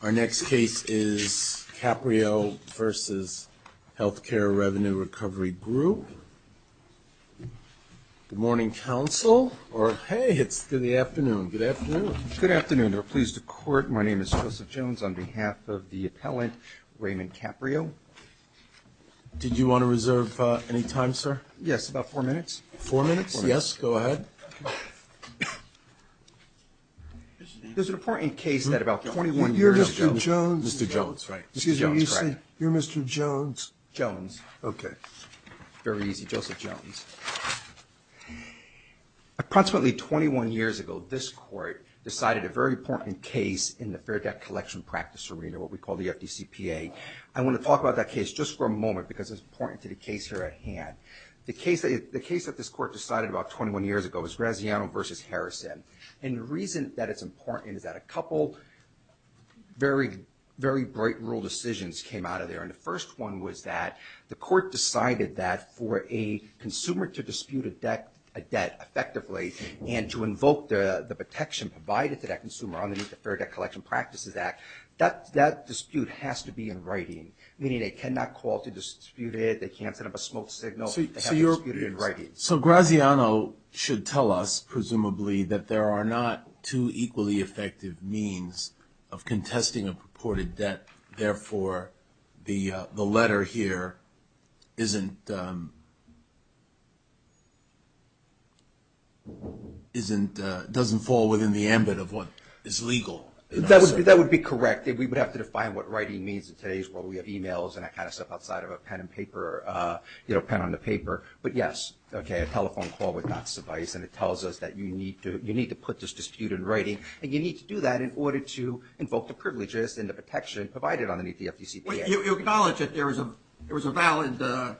Our next case is Caprio v. Healthcare Revenue Recovery Group. Good morning, counsel, or hey, it's good afternoon. Good afternoon. Good afternoon. We're pleased to court. My name is Joseph Jones on behalf of the appellant Raymond Caprio. Did you want to reserve any time, sir? Yes, about four minutes. Four minutes? Yes, go ahead. There's an important case that about 21 years ago. You're Mr. Jones? Mr. Jones, right. Excuse me, you say, you're Mr. Jones? Jones. Okay. Very easy, Joseph Jones. Approximately 21 years ago, this court decided a very important case in the fair debt collection practice arena, what we call the FDCPA. I want to talk about that case just for a moment because it's important to the case here at hand. The case that this court decided about 21 years ago was Graziano v. Harrison, and the reason that it's important is that a couple very bright rule decisions came out of there, and the first one was that the court decided that for a consumer to dispute a debt effectively and to invoke the protection provided to that consumer under the Fair Debt Collection Practices Act, that dispute has to be in writing, meaning they cannot call to dispute it, they can't set up a smoke signal. So Graziano should tell us, presumably, that there are not two equally effective means of contesting a purported debt, therefore the letter here doesn't fall within the ambit of what is legal. That would be correct. We would have to define what writing means in today's world. We have e-mails and that kind of stuff outside of a pen on the paper. But yes, a telephone call would not suffice, and it tells us that you need to put this dispute in writing, and you need to do that in order to invoke the privileges and the protection provided underneath the FDCPA. You acknowledge that there was a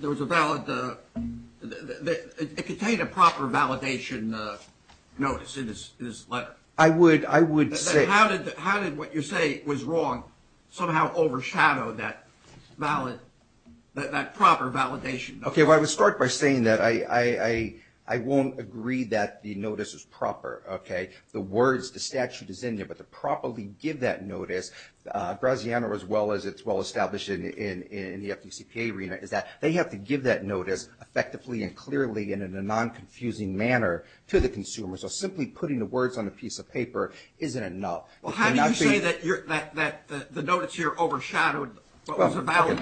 valid – it contained a proper validation notice in this letter. I would say – How did what you say was wrong somehow overshadow that valid – that proper validation? Okay, well, I would start by saying that I won't agree that the notice is proper, okay? The words, the statute is in there, but to properly give that notice, Graziano, as well as it's well established in the FDCPA arena, is that they have to give that notice effectively and clearly and in a non-confusing manner to the consumer. So simply putting the words on a piece of paper isn't enough. Well, how do you say that the notice here overshadowed what was a valid,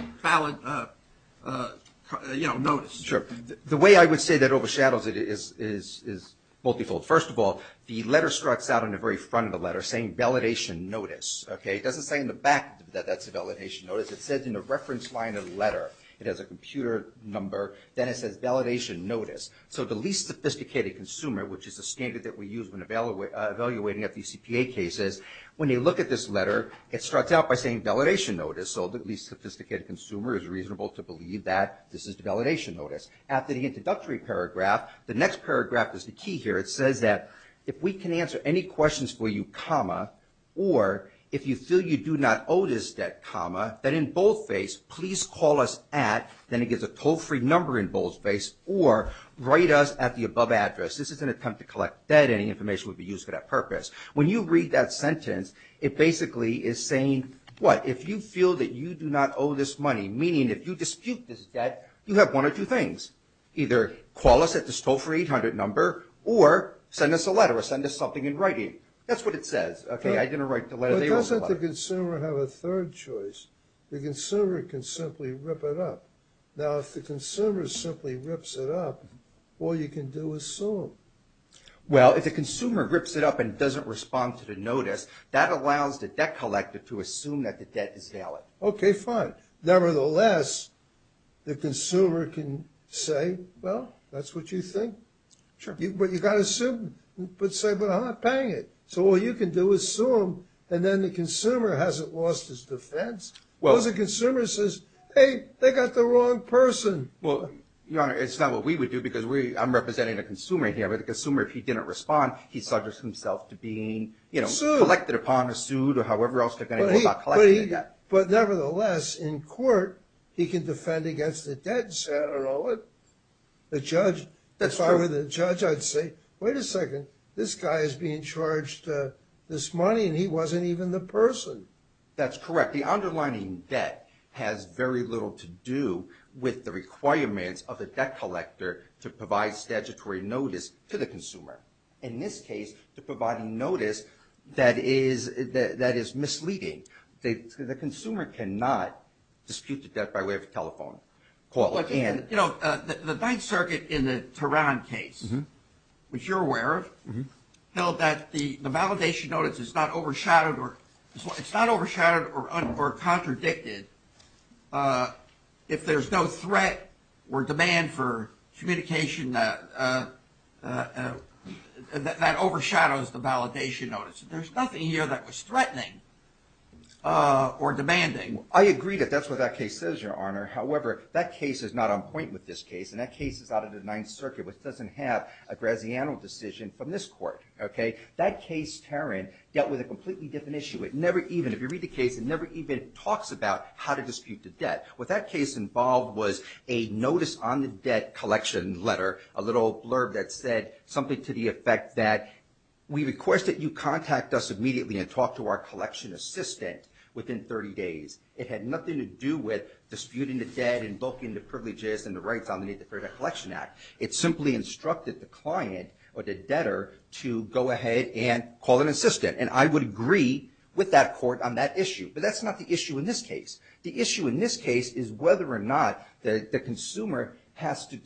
you know, notice? Sure. The way I would say that it overshadows it is multifold. First of all, the letter starts out on the very front of the letter saying validation notice, okay? It doesn't say in the back that that's a validation notice. It says in the reference line of the letter. It has a computer number, then it says validation notice. So the least sophisticated consumer, which is a standard that we use when evaluating FDCPA cases, when you look at this letter, it starts out by saying validation notice. So the least sophisticated consumer is reasonable to believe that this is the validation notice. After the introductory paragraph, the next paragraph is the key here. It says that if we can answer any questions for you, comma, or if you feel you do not owe this debt, comma, then in boldface, please call us at, then it gives a toll-free number in boldface, or write us at the above address. This is an attempt to collect debt. Any information would be used for that purpose. When you read that sentence, it basically is saying what? If you feel that you do not owe this money, meaning if you dispute this debt, you have one of two things. Either call us at this toll-free 800 number or send us a letter or send us something in writing. That's what it says, okay? I didn't write the letter. But doesn't the consumer have a third choice? The consumer can simply rip it up. Now, if the consumer simply rips it up, all you can do is sue him. Well, if the consumer rips it up and doesn't respond to the notice, that allows the debt collector to assume that the debt is valid. Okay, fine. Nevertheless, the consumer can say, well, that's what you think. But you've got to say, but I'm not paying it. So all you can do is sue him. And then the consumer hasn't lost his defense. Because the consumer says, hey, they got the wrong person. Well, Your Honor, it's not what we would do because I'm representing a consumer here. But the consumer, if he didn't respond, he subjects himself to being, you know, collected upon a suit or however else they're going to go about collecting it. But nevertheless, in court, he can defend against the debt and say, I don't know, the judge. If I were the judge, I'd say, wait a second, this guy is being charged this money, and he wasn't even the person. That's correct. The underlining debt has very little to do with the requirements of the debt collector to provide statutory notice to the consumer. In this case, to provide a notice that is misleading. The consumer cannot dispute the debt by way of a telephone call. The Ninth Circuit in the Tehran case, which you're aware of, held that the validation notice is not overshadowed or contradicted if there's no threat or demand for communication that overshadows the validation notice. There's nothing here that was threatening or demanding. I agree that that's what that case says, Your Honor. However, that case is not on point with this case, and that case is out of the Ninth Circuit, which doesn't have a Graziano decision from this court. That case, Tehran, dealt with a completely different issue. It never even, if you read the case, it never even talks about how to dispute the debt. What that case involved was a notice on the debt collection letter, a little blurb that said something to the effect that, we request that you contact us immediately and talk to our collection assistant within 30 days. It had nothing to do with disputing the debt, invoking the privileges, and the rights underneath the Fair Debt Collection Act. It simply instructed the client or the debtor to go ahead and call an assistant, and I would agree with that court on that issue. But that's not the issue in this case. The issue in this case is whether or not the consumer has two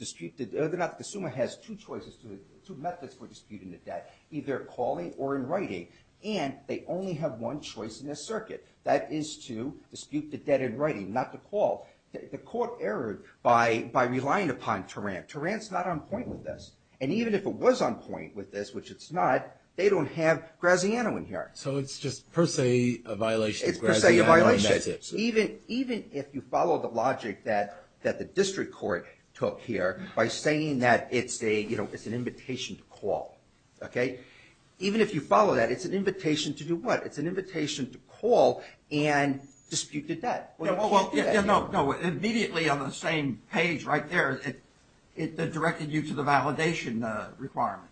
choices, two methods for disputing the debt, either calling or in writing, and they only have one choice in this circuit. That is to dispute the debt in writing, not to call. The court erred by relying upon Tehran. Tehran's not on point with this. And even if it was on point with this, which it's not, they don't have Graziano in here. So it's just per se a violation of Graziano's methods. It's per se a violation. Even if you follow the logic that the district court took here by saying that it's an invitation to call, okay, even if you follow that, it's an invitation to do what? It's an invitation to call and dispute the debt. No, immediately on the same page right there, it directed you to the validation requirement.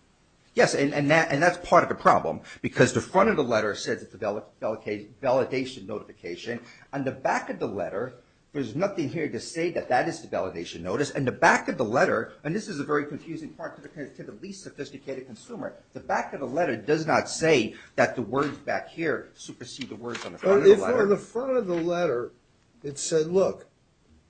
Yes, and that's part of the problem, because the front of the letter says it's a validation notification. On the back of the letter, there's nothing here to say that that is the validation notice. And the back of the letter, and this is a very confusing part to the least sophisticated consumer, the back of the letter does not say that the words back here supersede the words on the front of the letter. But if on the front of the letter it said, look,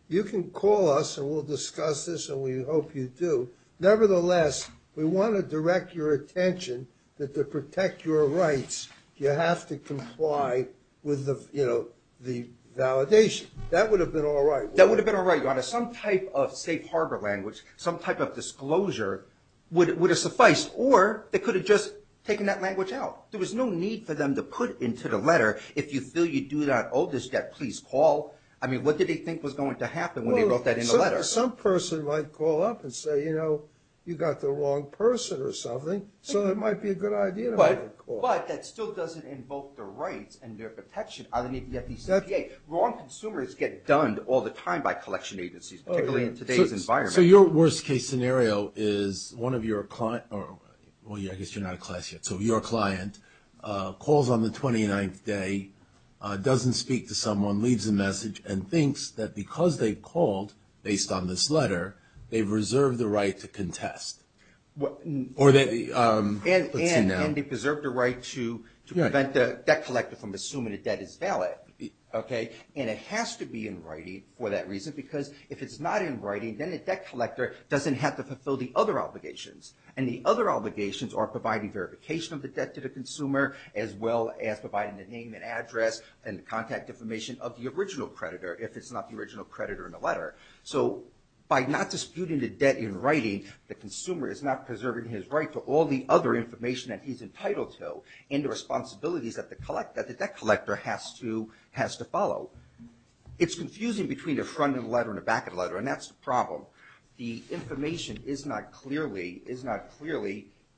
you can call us and we'll discuss this and we hope you do. Nevertheless, we want to direct your attention that to protect your rights, you have to comply with the validation. That would have been all right. That would have been all right. Some type of safe harbor language, some type of disclosure would have sufficed. Or they could have just taken that language out. There was no need for them to put into the letter, if you feel you do not owe this debt, please call. I mean, what did they think was going to happen when they wrote that in the letter? Well, some person might call up and say, you know, you got the wrong person or something, so it might be a good idea not to call. But that still doesn't invoke the rights and their protection underneath the FECPA. Wrong consumers get done all the time by collection agencies, particularly in today's environment. So your worst case scenario is one of your clients, well, I guess you're not a class yet, so your client calls on the 29th day, doesn't speak to someone, leaves a message and thinks that because they called based on this letter, they've reserved the right to contest. And they preserved the right to prevent the debt collector from assuming the debt is valid. And it has to be in writing for that reason because if it's not in writing, then the debt collector doesn't have to fulfill the other obligations. And the other obligations are providing verification of the debt to the consumer as well as providing the name and address and the contact information of the original creditor if it's not the original creditor in the letter. So by not disputing the debt in writing, the consumer is not preserving his right to all the other information that he's entitled to and the responsibilities that the debt collector has to follow. It's confusing between the front of the letter and the back of the letter, and that's the problem. The information is not clearly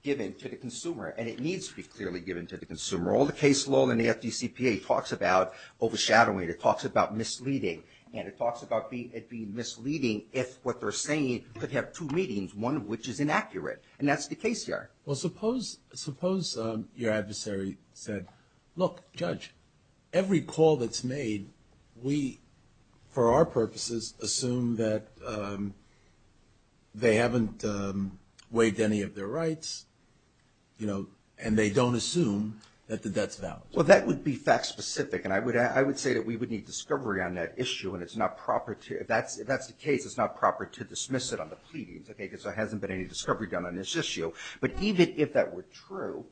given to the consumer, and it needs to be clearly given to the consumer. All the case law in the FDCPA talks about overshadowing, it talks about misleading, and it talks about it being misleading if what they're saying could have two meanings, one of which is inaccurate, and that's the case here. Well, suppose your adversary said, look, Judge, every call that's made, we, for our purposes, assume that they haven't waived any of their rights, you know, and they don't assume that the debt's valid. Well, that would be fact-specific, and I would say that we would need discovery on that issue, and it's not proper to, if that's the case, it's not proper to dismiss it on the pleadings, okay, because there hasn't been any discovery done on this issue. But even if that were true,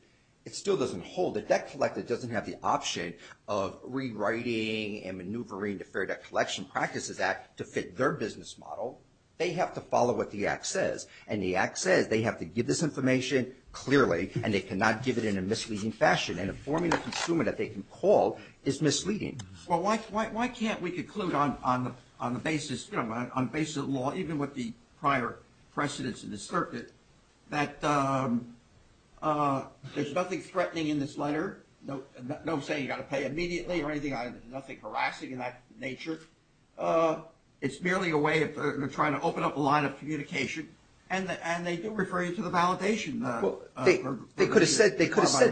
it still doesn't hold. The debt collector doesn't have the option of rewriting and maneuvering the Fair Debt Collection Practices Act to fit their business model. They have to follow what the Act says, and the Act says they have to give this information clearly, and they cannot give it in a misleading fashion, and informing the consumer that they can call is misleading. Well, why can't we conclude on the basis, you know, on the basis of the law, even with the prior precedents in the circuit, that there's nothing threatening in this letter, no saying you've got to pay immediately or anything, nothing harassing in that nature. It's merely a way of trying to open up a line of communication, and they do refer you to the validation. They could have said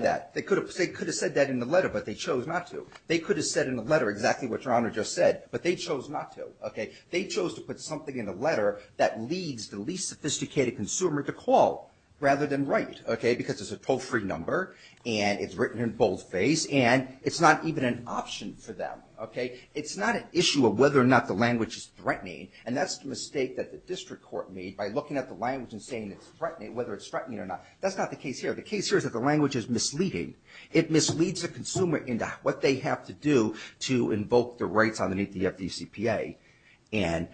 that. They could have said that in the letter, but they chose not to. They could have said in the letter exactly what Your Honor just said, but they chose not to, okay. They chose to put something in the letter that leads the least sophisticated consumer to call rather than write, okay, because it's a toll-free number, and it's written in boldface, and it's not even an option for them, okay. It's not an issue of whether or not the language is threatening, and that's the mistake that the district court made by looking at the language and saying it's threatening, whether it's threatening or not. That's not the case here. The case here is that the language is misleading. It misleads the consumer into what they have to do to invoke the rights underneath the FDCPA, and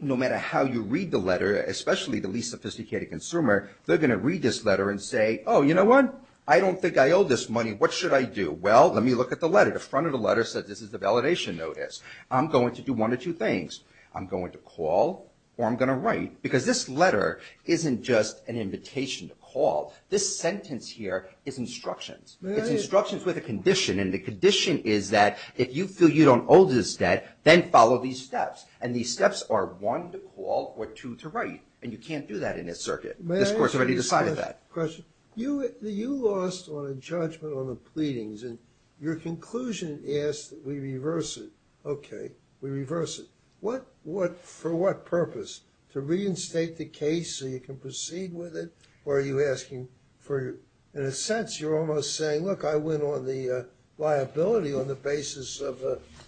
no matter how you read the letter, especially the least sophisticated consumer, they're going to read this letter and say, oh, you know what? I don't think I owe this money. What should I do? Well, let me look at the letter. The front of the letter says this is the validation notice. I'm going to do one of two things. I'm going to call, or I'm going to write, because this letter isn't just an invitation to call. This sentence here is instructions. It's instructions with a condition, and the condition is that if you feel you don't owe this debt, then follow these steps, and these steps are one, to call, or two, to write, and you can't do that in this circuit. This court's already decided that. You lost on a judgment on the pleadings, and your conclusion is that we reverse it. Okay. We reverse it. For what purpose? To reinstate the case so you can proceed with it, or are you asking for, in a sense, you're almost saying, look, I went on the liability on the basis of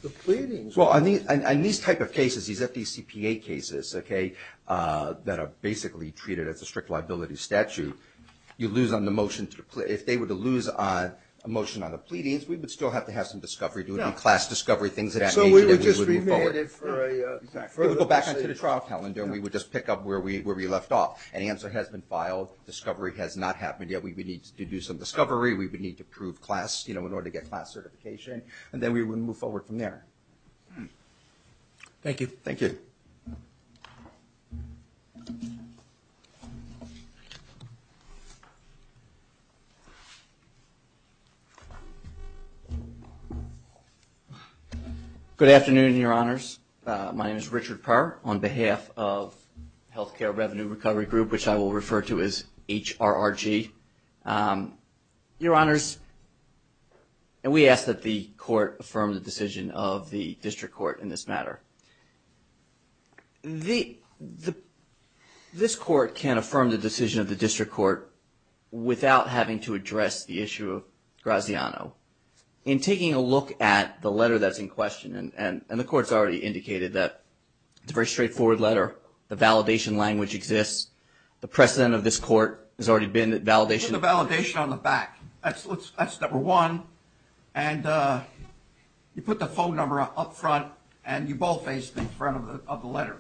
the pleadings. Well, in these type of cases, these FDCPA cases, okay, that are basically treated as a strict liability statute, you lose on the motion. If they were to lose a motion on the pleadings, we would still have to have some discovery. There would be class discovery, things of that nature that we would move forward. So we would just remand it for a... We would just pick up where we left off. An answer has been filed. Discovery has not happened yet. We would need to do some discovery. We would need to prove class in order to get class certification, and then we would move forward from there. Thank you. Thank you. Good afternoon, Your Honors. My name is Richard Perr on behalf of Health Care Revenue Recovery Group, which I will refer to as HRRG. Your Honors, we ask that the Court affirm the decision of the District Court in this matter. This Court can affirm the decision of the District Court without having to address the issue of Graziano. In taking a look at the letter that's in question, and the Court's already indicated that it's a very straightforward letter. The validation language exists. The precedent of this Court has already been that validation... Put the validation on the back. That's number one. And you put the phone number up front, and you both face the front of the letter.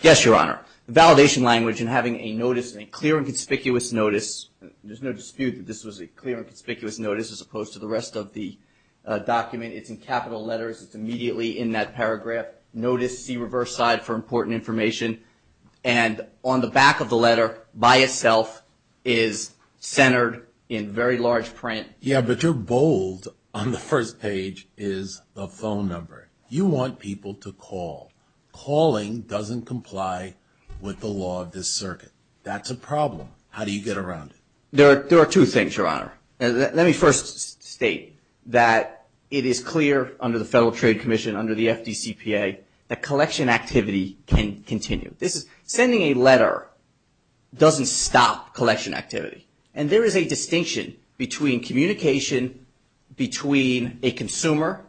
Yes, Your Honor. The validation language and having a notice, a clear and conspicuous notice. There's no dispute that this was a clear and conspicuous notice as opposed to the rest of the document. It's in capital letters. It's immediately in that paragraph. Notice, see reverse side for important information. And on the back of the letter by itself is centered in very large print. Yeah, but your bold on the first page is the phone number. You want people to call. That's a problem. How do you get around it? There are two things, Your Honor. Let me first state that it is clear under the Federal Trade Commission, under the FDCPA, that collection activity can continue. Sending a letter doesn't stop collection activity. And there is a distinction between communication between a consumer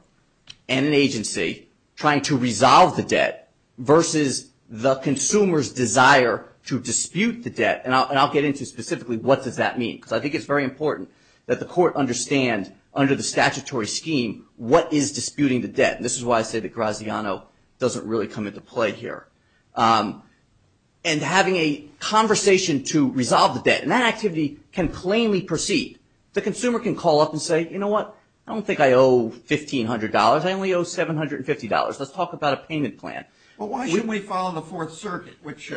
and an agency trying to resolve the debt versus the consumer's desire to dispute the debt. And I'll get into specifically what does that mean because I think it's very important that the court understand under the statutory scheme what is disputing the debt. This is why I say that Graziano doesn't really come into play here. And having a conversation to resolve the debt, and that activity can plainly proceed. The consumer can call up and say, you know what, I don't think I owe $1,500. I only owe $750. Let's talk about a payment plan. Well, why shouldn't we follow the Fourth Circuit, which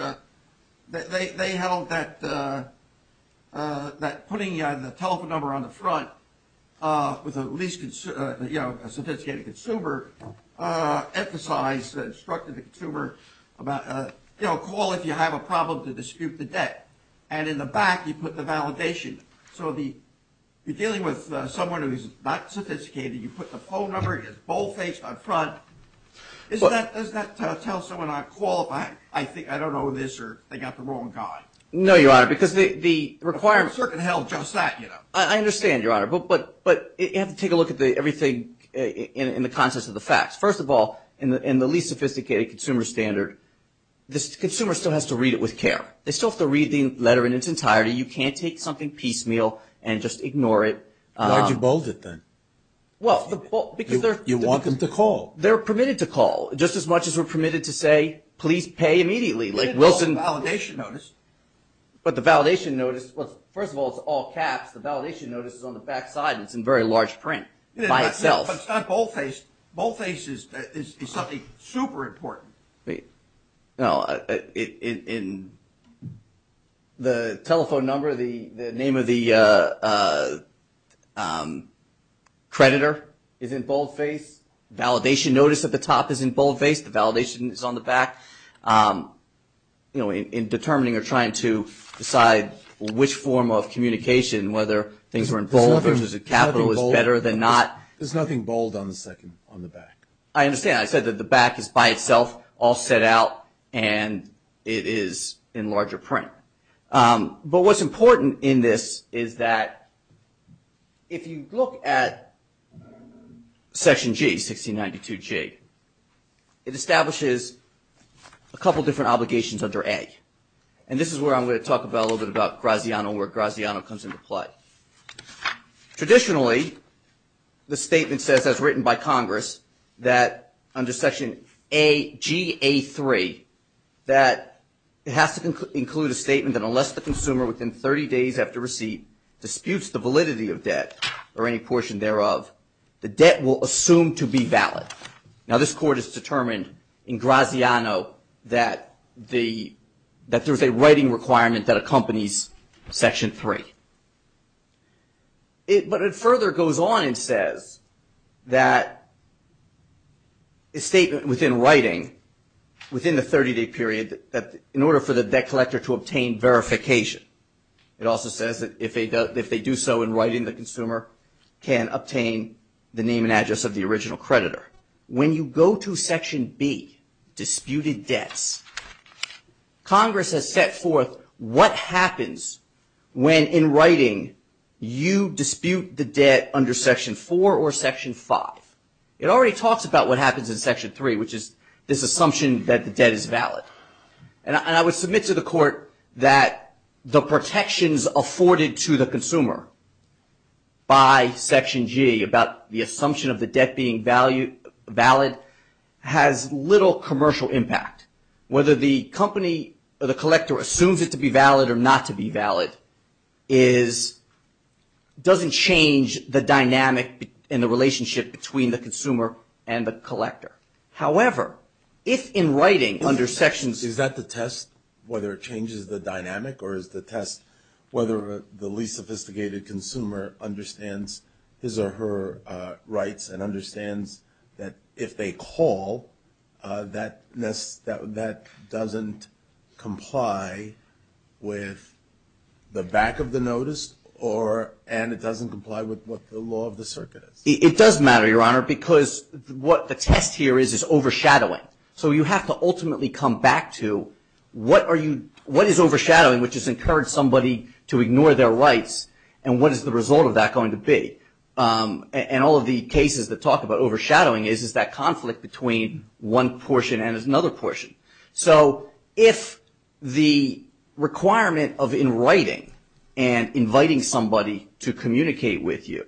they held that putting the telephone number on the front with a least, you know, a sophisticated consumer emphasized, instructed the consumer about, you know, call if you have a problem to dispute the debt. And in the back, you put the validation. So you're dealing with someone who is not sophisticated. You put the phone number. He has boldface on front. Does that tell someone I'm qualified? I don't know this, or they got the wrong guy. No, Your Honor, because the requirement. The Fourth Circuit held just that, you know. I understand, Your Honor. But you have to take a look at everything in the context of the facts. First of all, in the least sophisticated consumer standard, the consumer still has to read it with care. They still have to read the letter in its entirety. You can't take something piecemeal and just ignore it. Why did you bold it then? Well, because they're – You want them to call. They're permitted to call, just as much as we're permitted to say, please pay immediately. Like Wilson – It's a validation notice. But the validation notice – well, first of all, it's all caps. The validation notice is on the back side, and it's in very large print by itself. But it's not boldface. Boldface is something super important. No, in the telephone number, the name of the creditor is in boldface. Validation notice at the top is in boldface. The validation is on the back. You know, in determining or trying to decide which form of communication, whether things were in bold versus capital, is better than not. There's nothing bold on the back. I understand. I said that the back is by itself, all set out, and it is in larger print. But what's important in this is that if you look at Section G, 1692G, it establishes a couple different obligations under A. And this is where I'm going to talk a little bit about Graziano and where Graziano comes into play. Traditionally, the statement says, as written by Congress, that under Section G.A.3, that it has to include a statement that unless the consumer within 30 days after receipt disputes the validity of debt or any portion thereof, the debt will assume to be valid. Now, this Court has determined in Graziano that there's a writing requirement that accompanies Section 3. But it further goes on and says that a statement within writing, within the 30-day period, that in order for the debt collector to obtain verification, it also says that if they do so in writing, the consumer can obtain the name and address of the original creditor. However, when you go to Section B, Disputed Debts, Congress has set forth what happens when, in writing, you dispute the debt under Section 4 or Section 5. It already talks about what happens in Section 3, which is this assumption that the debt is valid. And I would submit to the Court that the protections afforded to the consumer by Section G, about the assumption of the debt being valid, has little commercial impact. Whether the company or the collector assumes it to be valid or not to be valid doesn't change the dynamic and the relationship between the consumer and the collector. However, if in writing under Section – Is that to test whether it changes the dynamic or is the test whether the least sophisticated consumer understands his or her rights and understands that if they call, that doesn't comply with the back of the notice and it doesn't comply with what the law of the circuit is? It does matter, Your Honor, because what the test here is is overshadowing. So you have to ultimately come back to what is overshadowing, which has encouraged somebody to ignore their rights, and what is the result of that going to be? And all of the cases that talk about overshadowing is that conflict between one portion and another portion. So if the requirement of in writing and inviting somebody to communicate with you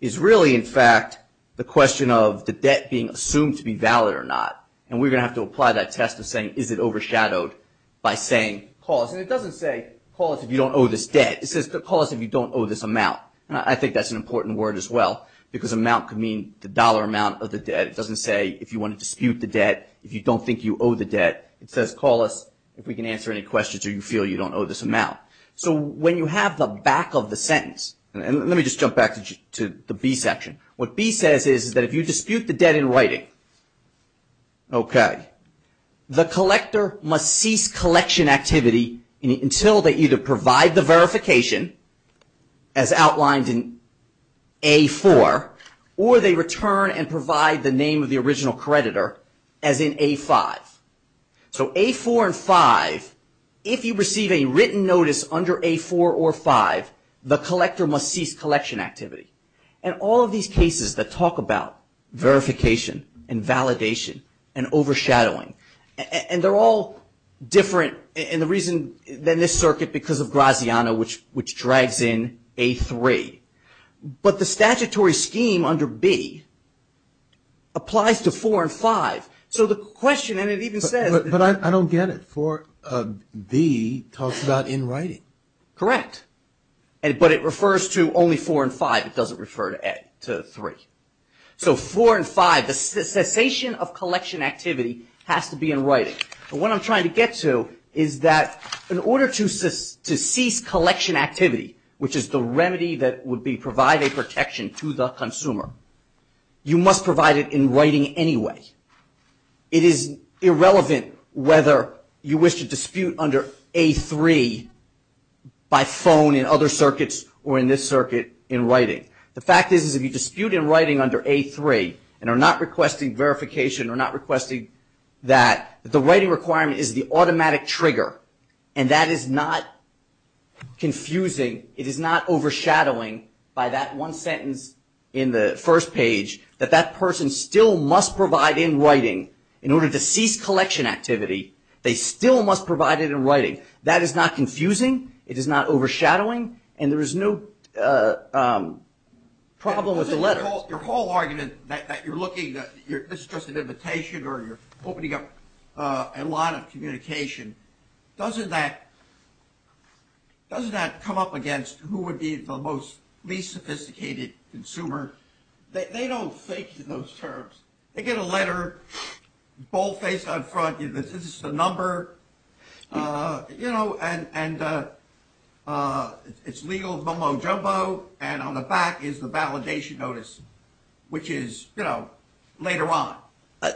is really, in fact, the question of the debt being assumed to be valid or not and we're going to have to apply that test of saying is it overshadowed by saying call us. And it doesn't say call us if you don't owe this debt. It says call us if you don't owe this amount. I think that's an important word as well because amount can mean the dollar amount of the debt. It doesn't say if you want to dispute the debt, if you don't think you owe the debt. It says call us if we can answer any questions or you feel you don't owe this amount. So when you have the back of the sentence, and let me just jump back to the B section. What B says is that if you dispute the debt in writing, the collector must cease collection activity until they either provide the verification, as outlined in A4, or they return and provide the name of the original creditor, as in A5. So A4 and 5, if you receive a written notice under A4 or 5, the collector must cease collection activity. And all of these cases that talk about verification and validation and overshadowing, and they're all different in the reason than this circuit because of Graziano, which drags in A3. But the statutory scheme under B applies to 4 and 5. So the question, and it even says. But I don't get it. B talks about in writing. Correct. But it refers to only 4 and 5. It doesn't refer to 3. So 4 and 5, the cessation of collection activity has to be in writing. But what I'm trying to get to is that in order to cease collection activity, which is the remedy that would be provide a protection to the consumer, you must provide it in writing anyway. It is irrelevant whether you wish to dispute under A3 by phone in other circuits or in this circuit in writing. The fact is if you dispute in writing under A3 and are not requesting verification, are not requesting that, the writing requirement is the automatic trigger. And that is not confusing. It is not overshadowing by that one sentence in the first page, that that person still must provide in writing. In order to cease collection activity, they still must provide it in writing. That is not confusing. It is not overshadowing. And there is no problem with the letter. Your whole argument that you're looking, this is just an invitation or you're opening up a lot of communication, doesn't that come up against who would be the least sophisticated consumer? They don't think in those terms. They get a letter, boldface up front, this is the number, you know, and it's legal bumbo jumbo and on the back is the validation notice, which is, you know, later on.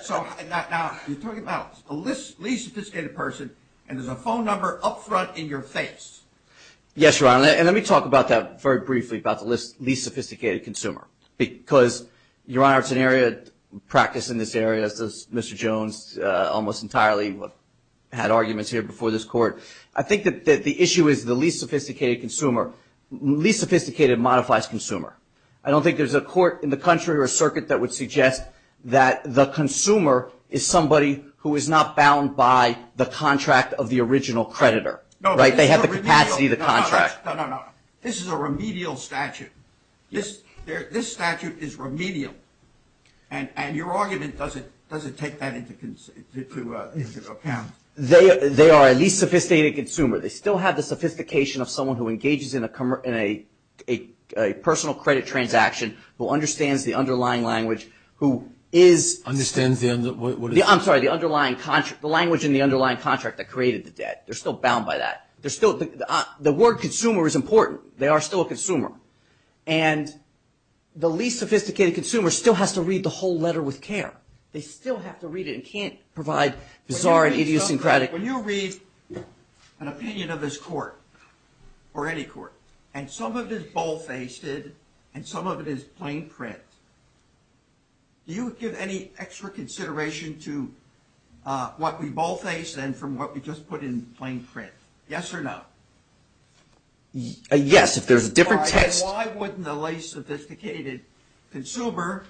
So now you're talking about the least sophisticated person and there's a phone number up front in your face. Yes, Ron. And let me talk about that very briefly, about the least sophisticated consumer. Because, Your Honor, it's an area of practice in this area, as Mr. Jones almost entirely had arguments here before this court. I think that the issue is the least sophisticated consumer. Least sophisticated modifies consumer. I don't think there's a court in the country or a circuit that would suggest that the consumer is somebody who is not bound by the contract of the original creditor. Right? They have the capacity of the contract. No, no, no. This is a remedial statute. This statute is remedial. And your argument, does it take that into account? They are a least sophisticated consumer. They still have the sophistication of someone who engages in a personal credit transaction, who understands the underlying language, who is – Understands the – I'm sorry, the language in the underlying contract that created the debt. They're still bound by that. They're still – the word consumer is important. They are still a consumer. And the least sophisticated consumer still has to read the whole letter with care. They still have to read it and can't provide bizarre and idiosyncratic – When you read an opinion of this court, or any court, and some of it is bold-faced and some of it is plain print, do you give any extra consideration to what we bold-face than from what we just put in plain print? Yes or no? Yes, if there's a different text – Why wouldn't a least sophisticated consumer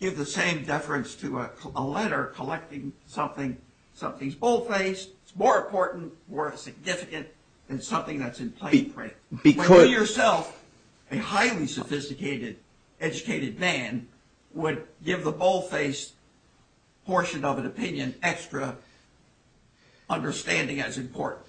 give the same deference to a letter collecting something – something's bold-faced, it's more important, more significant than something that's in plain print? Because – When you yourself, a highly sophisticated, educated man, would give the bold-faced portion of an opinion extra understanding as important.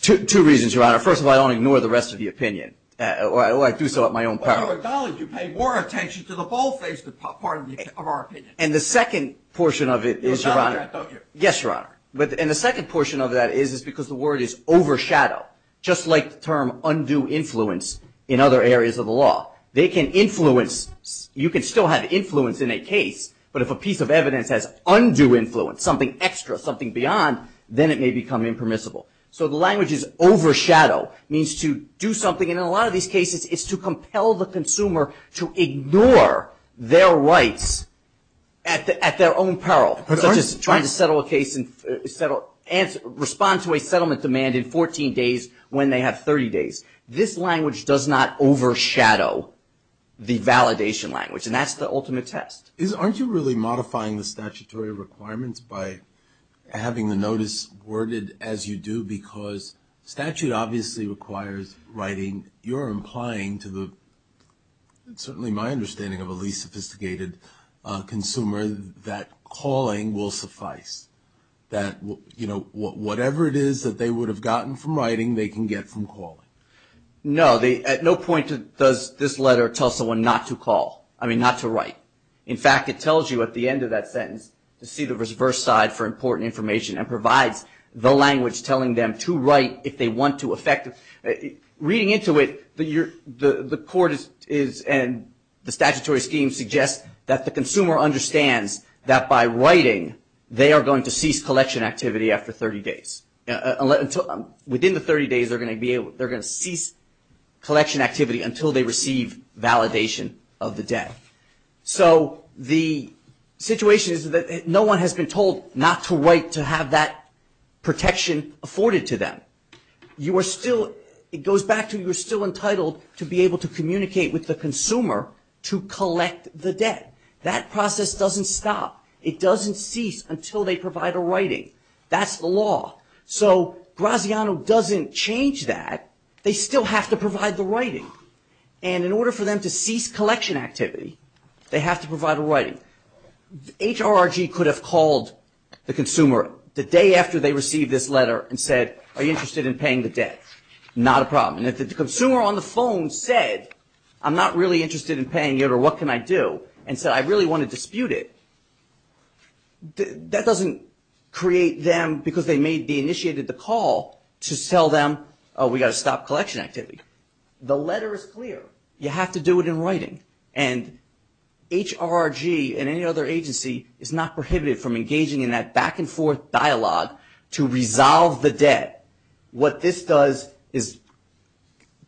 Two reasons, Your Honor. First of all, I don't ignore the rest of the opinion. I do so at my own peril. You pay more attention to the bold-faced part of our opinion. And the second portion of it is, Your Honor – Yes, Your Honor. And the second portion of that is because the word is overshadow, just like the term undue influence in other areas of the law. They can influence – you can still have influence in a case, but if a piece of evidence has undue influence, something extra, something beyond, then it may become impermissible. So the language is overshadow. It means to do something, and in a lot of these cases, it's to compel the consumer to ignore their rights at their own peril, such as trying to settle a case and respond to a settlement demand in 14 days when they have 30 days. This language does not overshadow the validation language, and that's the ultimate test. Aren't you really modifying the statutory requirements by having the notice worded as you do because statute obviously requires writing. You're implying to the – certainly my understanding of a least sophisticated consumer that calling will suffice, that, you know, whatever it is that they would have gotten from writing, they can get from calling. No. At no point does this letter tell someone not to call – I mean, not to write. In fact, it tells you at the end of that sentence to see the reverse side for important information and provides the language telling them to write if they want to affect – reading into it, the court is – and the statutory scheme suggests that the consumer understands that by writing, they are going to cease collection activity after 30 days. Within the 30 days, they're going to cease collection activity until they receive validation of the debt. So the situation is that no one has been told not to write to have that protection afforded to them. You are still – it goes back to you're still entitled to be able to communicate with the consumer to collect the debt. That process doesn't stop. It doesn't cease until they provide a writing. That's the law. So Graziano doesn't change that. They still have to provide the writing. And in order for them to cease collection activity, they have to provide a writing. HRRG could have called the consumer the day after they received this letter and said, are you interested in paying the debt? Not a problem. And if the consumer on the phone said, I'm not really interested in paying it or what can I do, and said, I really want to dispute it, that doesn't create them, because they may be initiated the call, to tell them, oh, we've got to stop collection activity. The letter is clear. You have to do it in writing. And HRRG and any other agency is not prohibited from engaging in that back-and-forth dialogue to resolve the debt. What this does is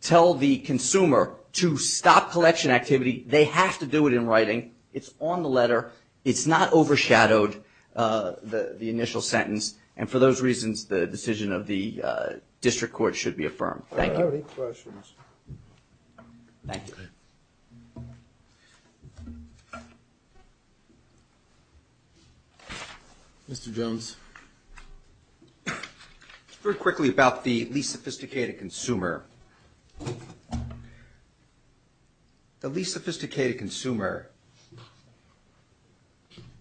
tell the consumer to stop collection activity. They have to do it in writing. It's on the letter. It's not overshadowed, the initial sentence. And for those reasons, the decision of the district court should be affirmed. Thank you. Any questions? Thank you. Mr. Jones. It's very quickly about the least sophisticated consumer. The least sophisticated consumer,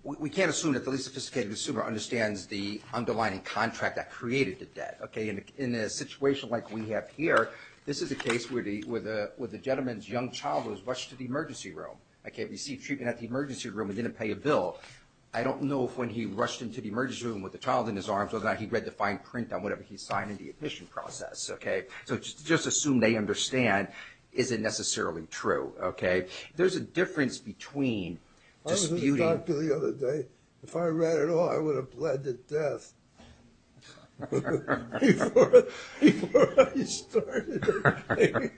we can't assume that the least sophisticated consumer understands the underlying contract that created the debt. Okay? In a situation like we have here, this is a case where the gentleman's young child was rushed to the emergency room. Okay? Received treatment at the emergency room and didn't pay a bill. I don't know if when he rushed into the emergency room with the child in his arms or not, he read the fine print on whatever he signed in the admission process. Okay? So just assume they understand. Is it necessarily true? Okay? There's a difference between disputing... I was at the doctor the other day. If I read it all, I would have bled to death before I started writing.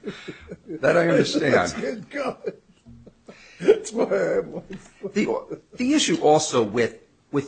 That I understand. That's good God. That's what I am. The issue also with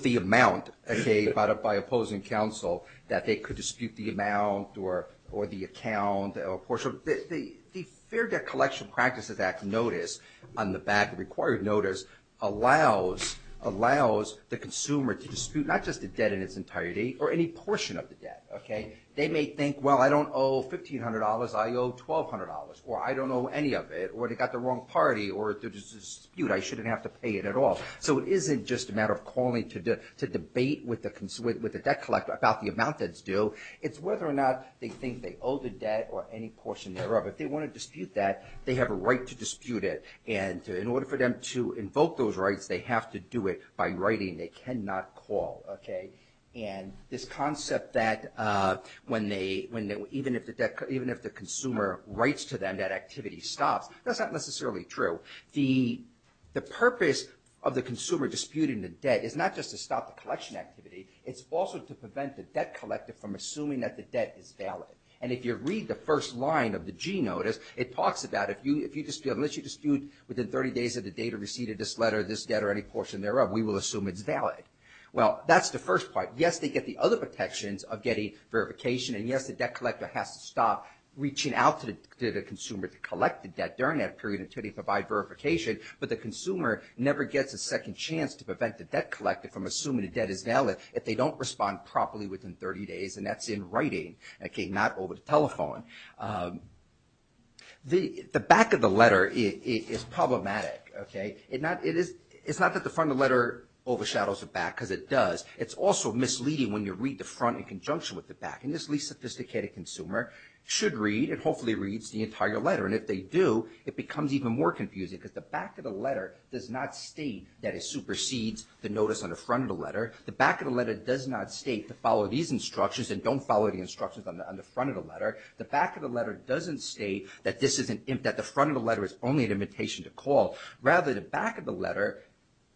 the amount, okay, by opposing counsel, that they could dispute the amount or the account or portion. The Fair Debt Collection Practices Act notice on the back, required notice, allows the consumer to dispute not just the debt in its entirety or any portion of the debt. Okay? They may think, well, I don't owe $1,500. I owe $1,200. Or I don't owe any of it. Or they got the wrong party. Or there's a dispute. I shouldn't have to pay it at all. So it isn't just a matter of calling to debate with the debt collector about the amount that's due. It's whether or not they think they owe the debt or any portion thereof. If they want to dispute that, they have a right to dispute it. And in order for them to invoke those rights, they have to do it by writing they cannot call. Okay? That's not necessarily true. The purpose of the consumer disputing the debt is not just to stop the collection activity. It's also to prevent the debt collector from assuming that the debt is valid. And if you read the first line of the G notice, it talks about if you dispute, unless you dispute within 30 days of the date of receipt of this letter, this debt, or any portion thereof, we will assume it's valid. Well, that's the first part. Yes, they get the other protections of getting verification. And yes, the debt collector has to stop reaching out to the consumer to collect the debt during that period until they provide verification. But the consumer never gets a second chance to prevent the debt collector from assuming the debt is valid if they don't respond properly within 30 days. And that's in writing. Okay? Not over the telephone. The back of the letter is problematic. Okay? It's not that the front of the letter overshadows the back, because it does. It's also misleading when you read the front in conjunction with the back. And this least-sophisticated consumer should read and hopefully reads the entire letter. And if they do, it becomes even more confusing, because the back of the letter does not state that it supersedes the notice on the front of the letter. The back of the letter does not state to follow these instructions and don't follow the instructions on the front of the letter. The back of the letter doesn't state that this is — that the front of the letter is only an invitation to call. Rather, the back of the letter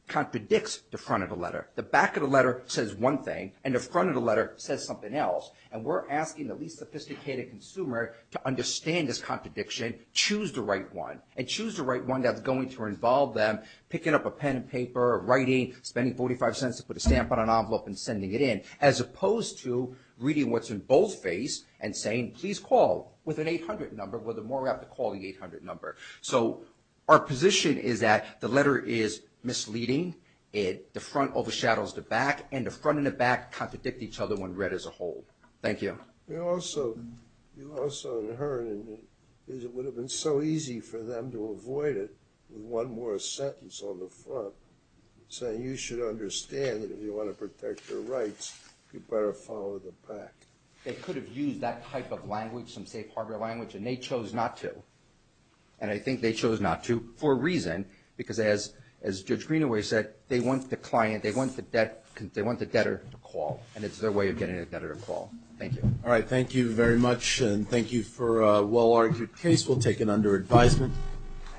contradicts the front of the letter. The back of the letter says one thing, and the front of the letter says something else, and we're asking the least-sophisticated consumer to understand this contradiction, choose the right one, and choose the right one that's going to involve them picking up a pen and paper or writing, spending 45 cents to put a stamp on an envelope and sending it in, as opposed to reading what's in both face and saying, please call with an 800 number, where the more we have to call the 800 number. So our position is that the letter is misleading, the front overshadows the back, and the front and the back contradict each other when read as a whole. Thank you. You also inherited that it would have been so easy for them to avoid it with one more sentence on the front saying you should understand that if you want to protect your rights, you better follow the pact. They could have used that type of language, some safe harbor language, and they chose not to. And I think they chose not to for a reason, because as Judge Greenaway said, they want the client, they want the debtor to call, and it's their way of getting a debtor to call. Thank you. All right, thank you very much, and thank you for a well-argued case. We'll take it under advisement.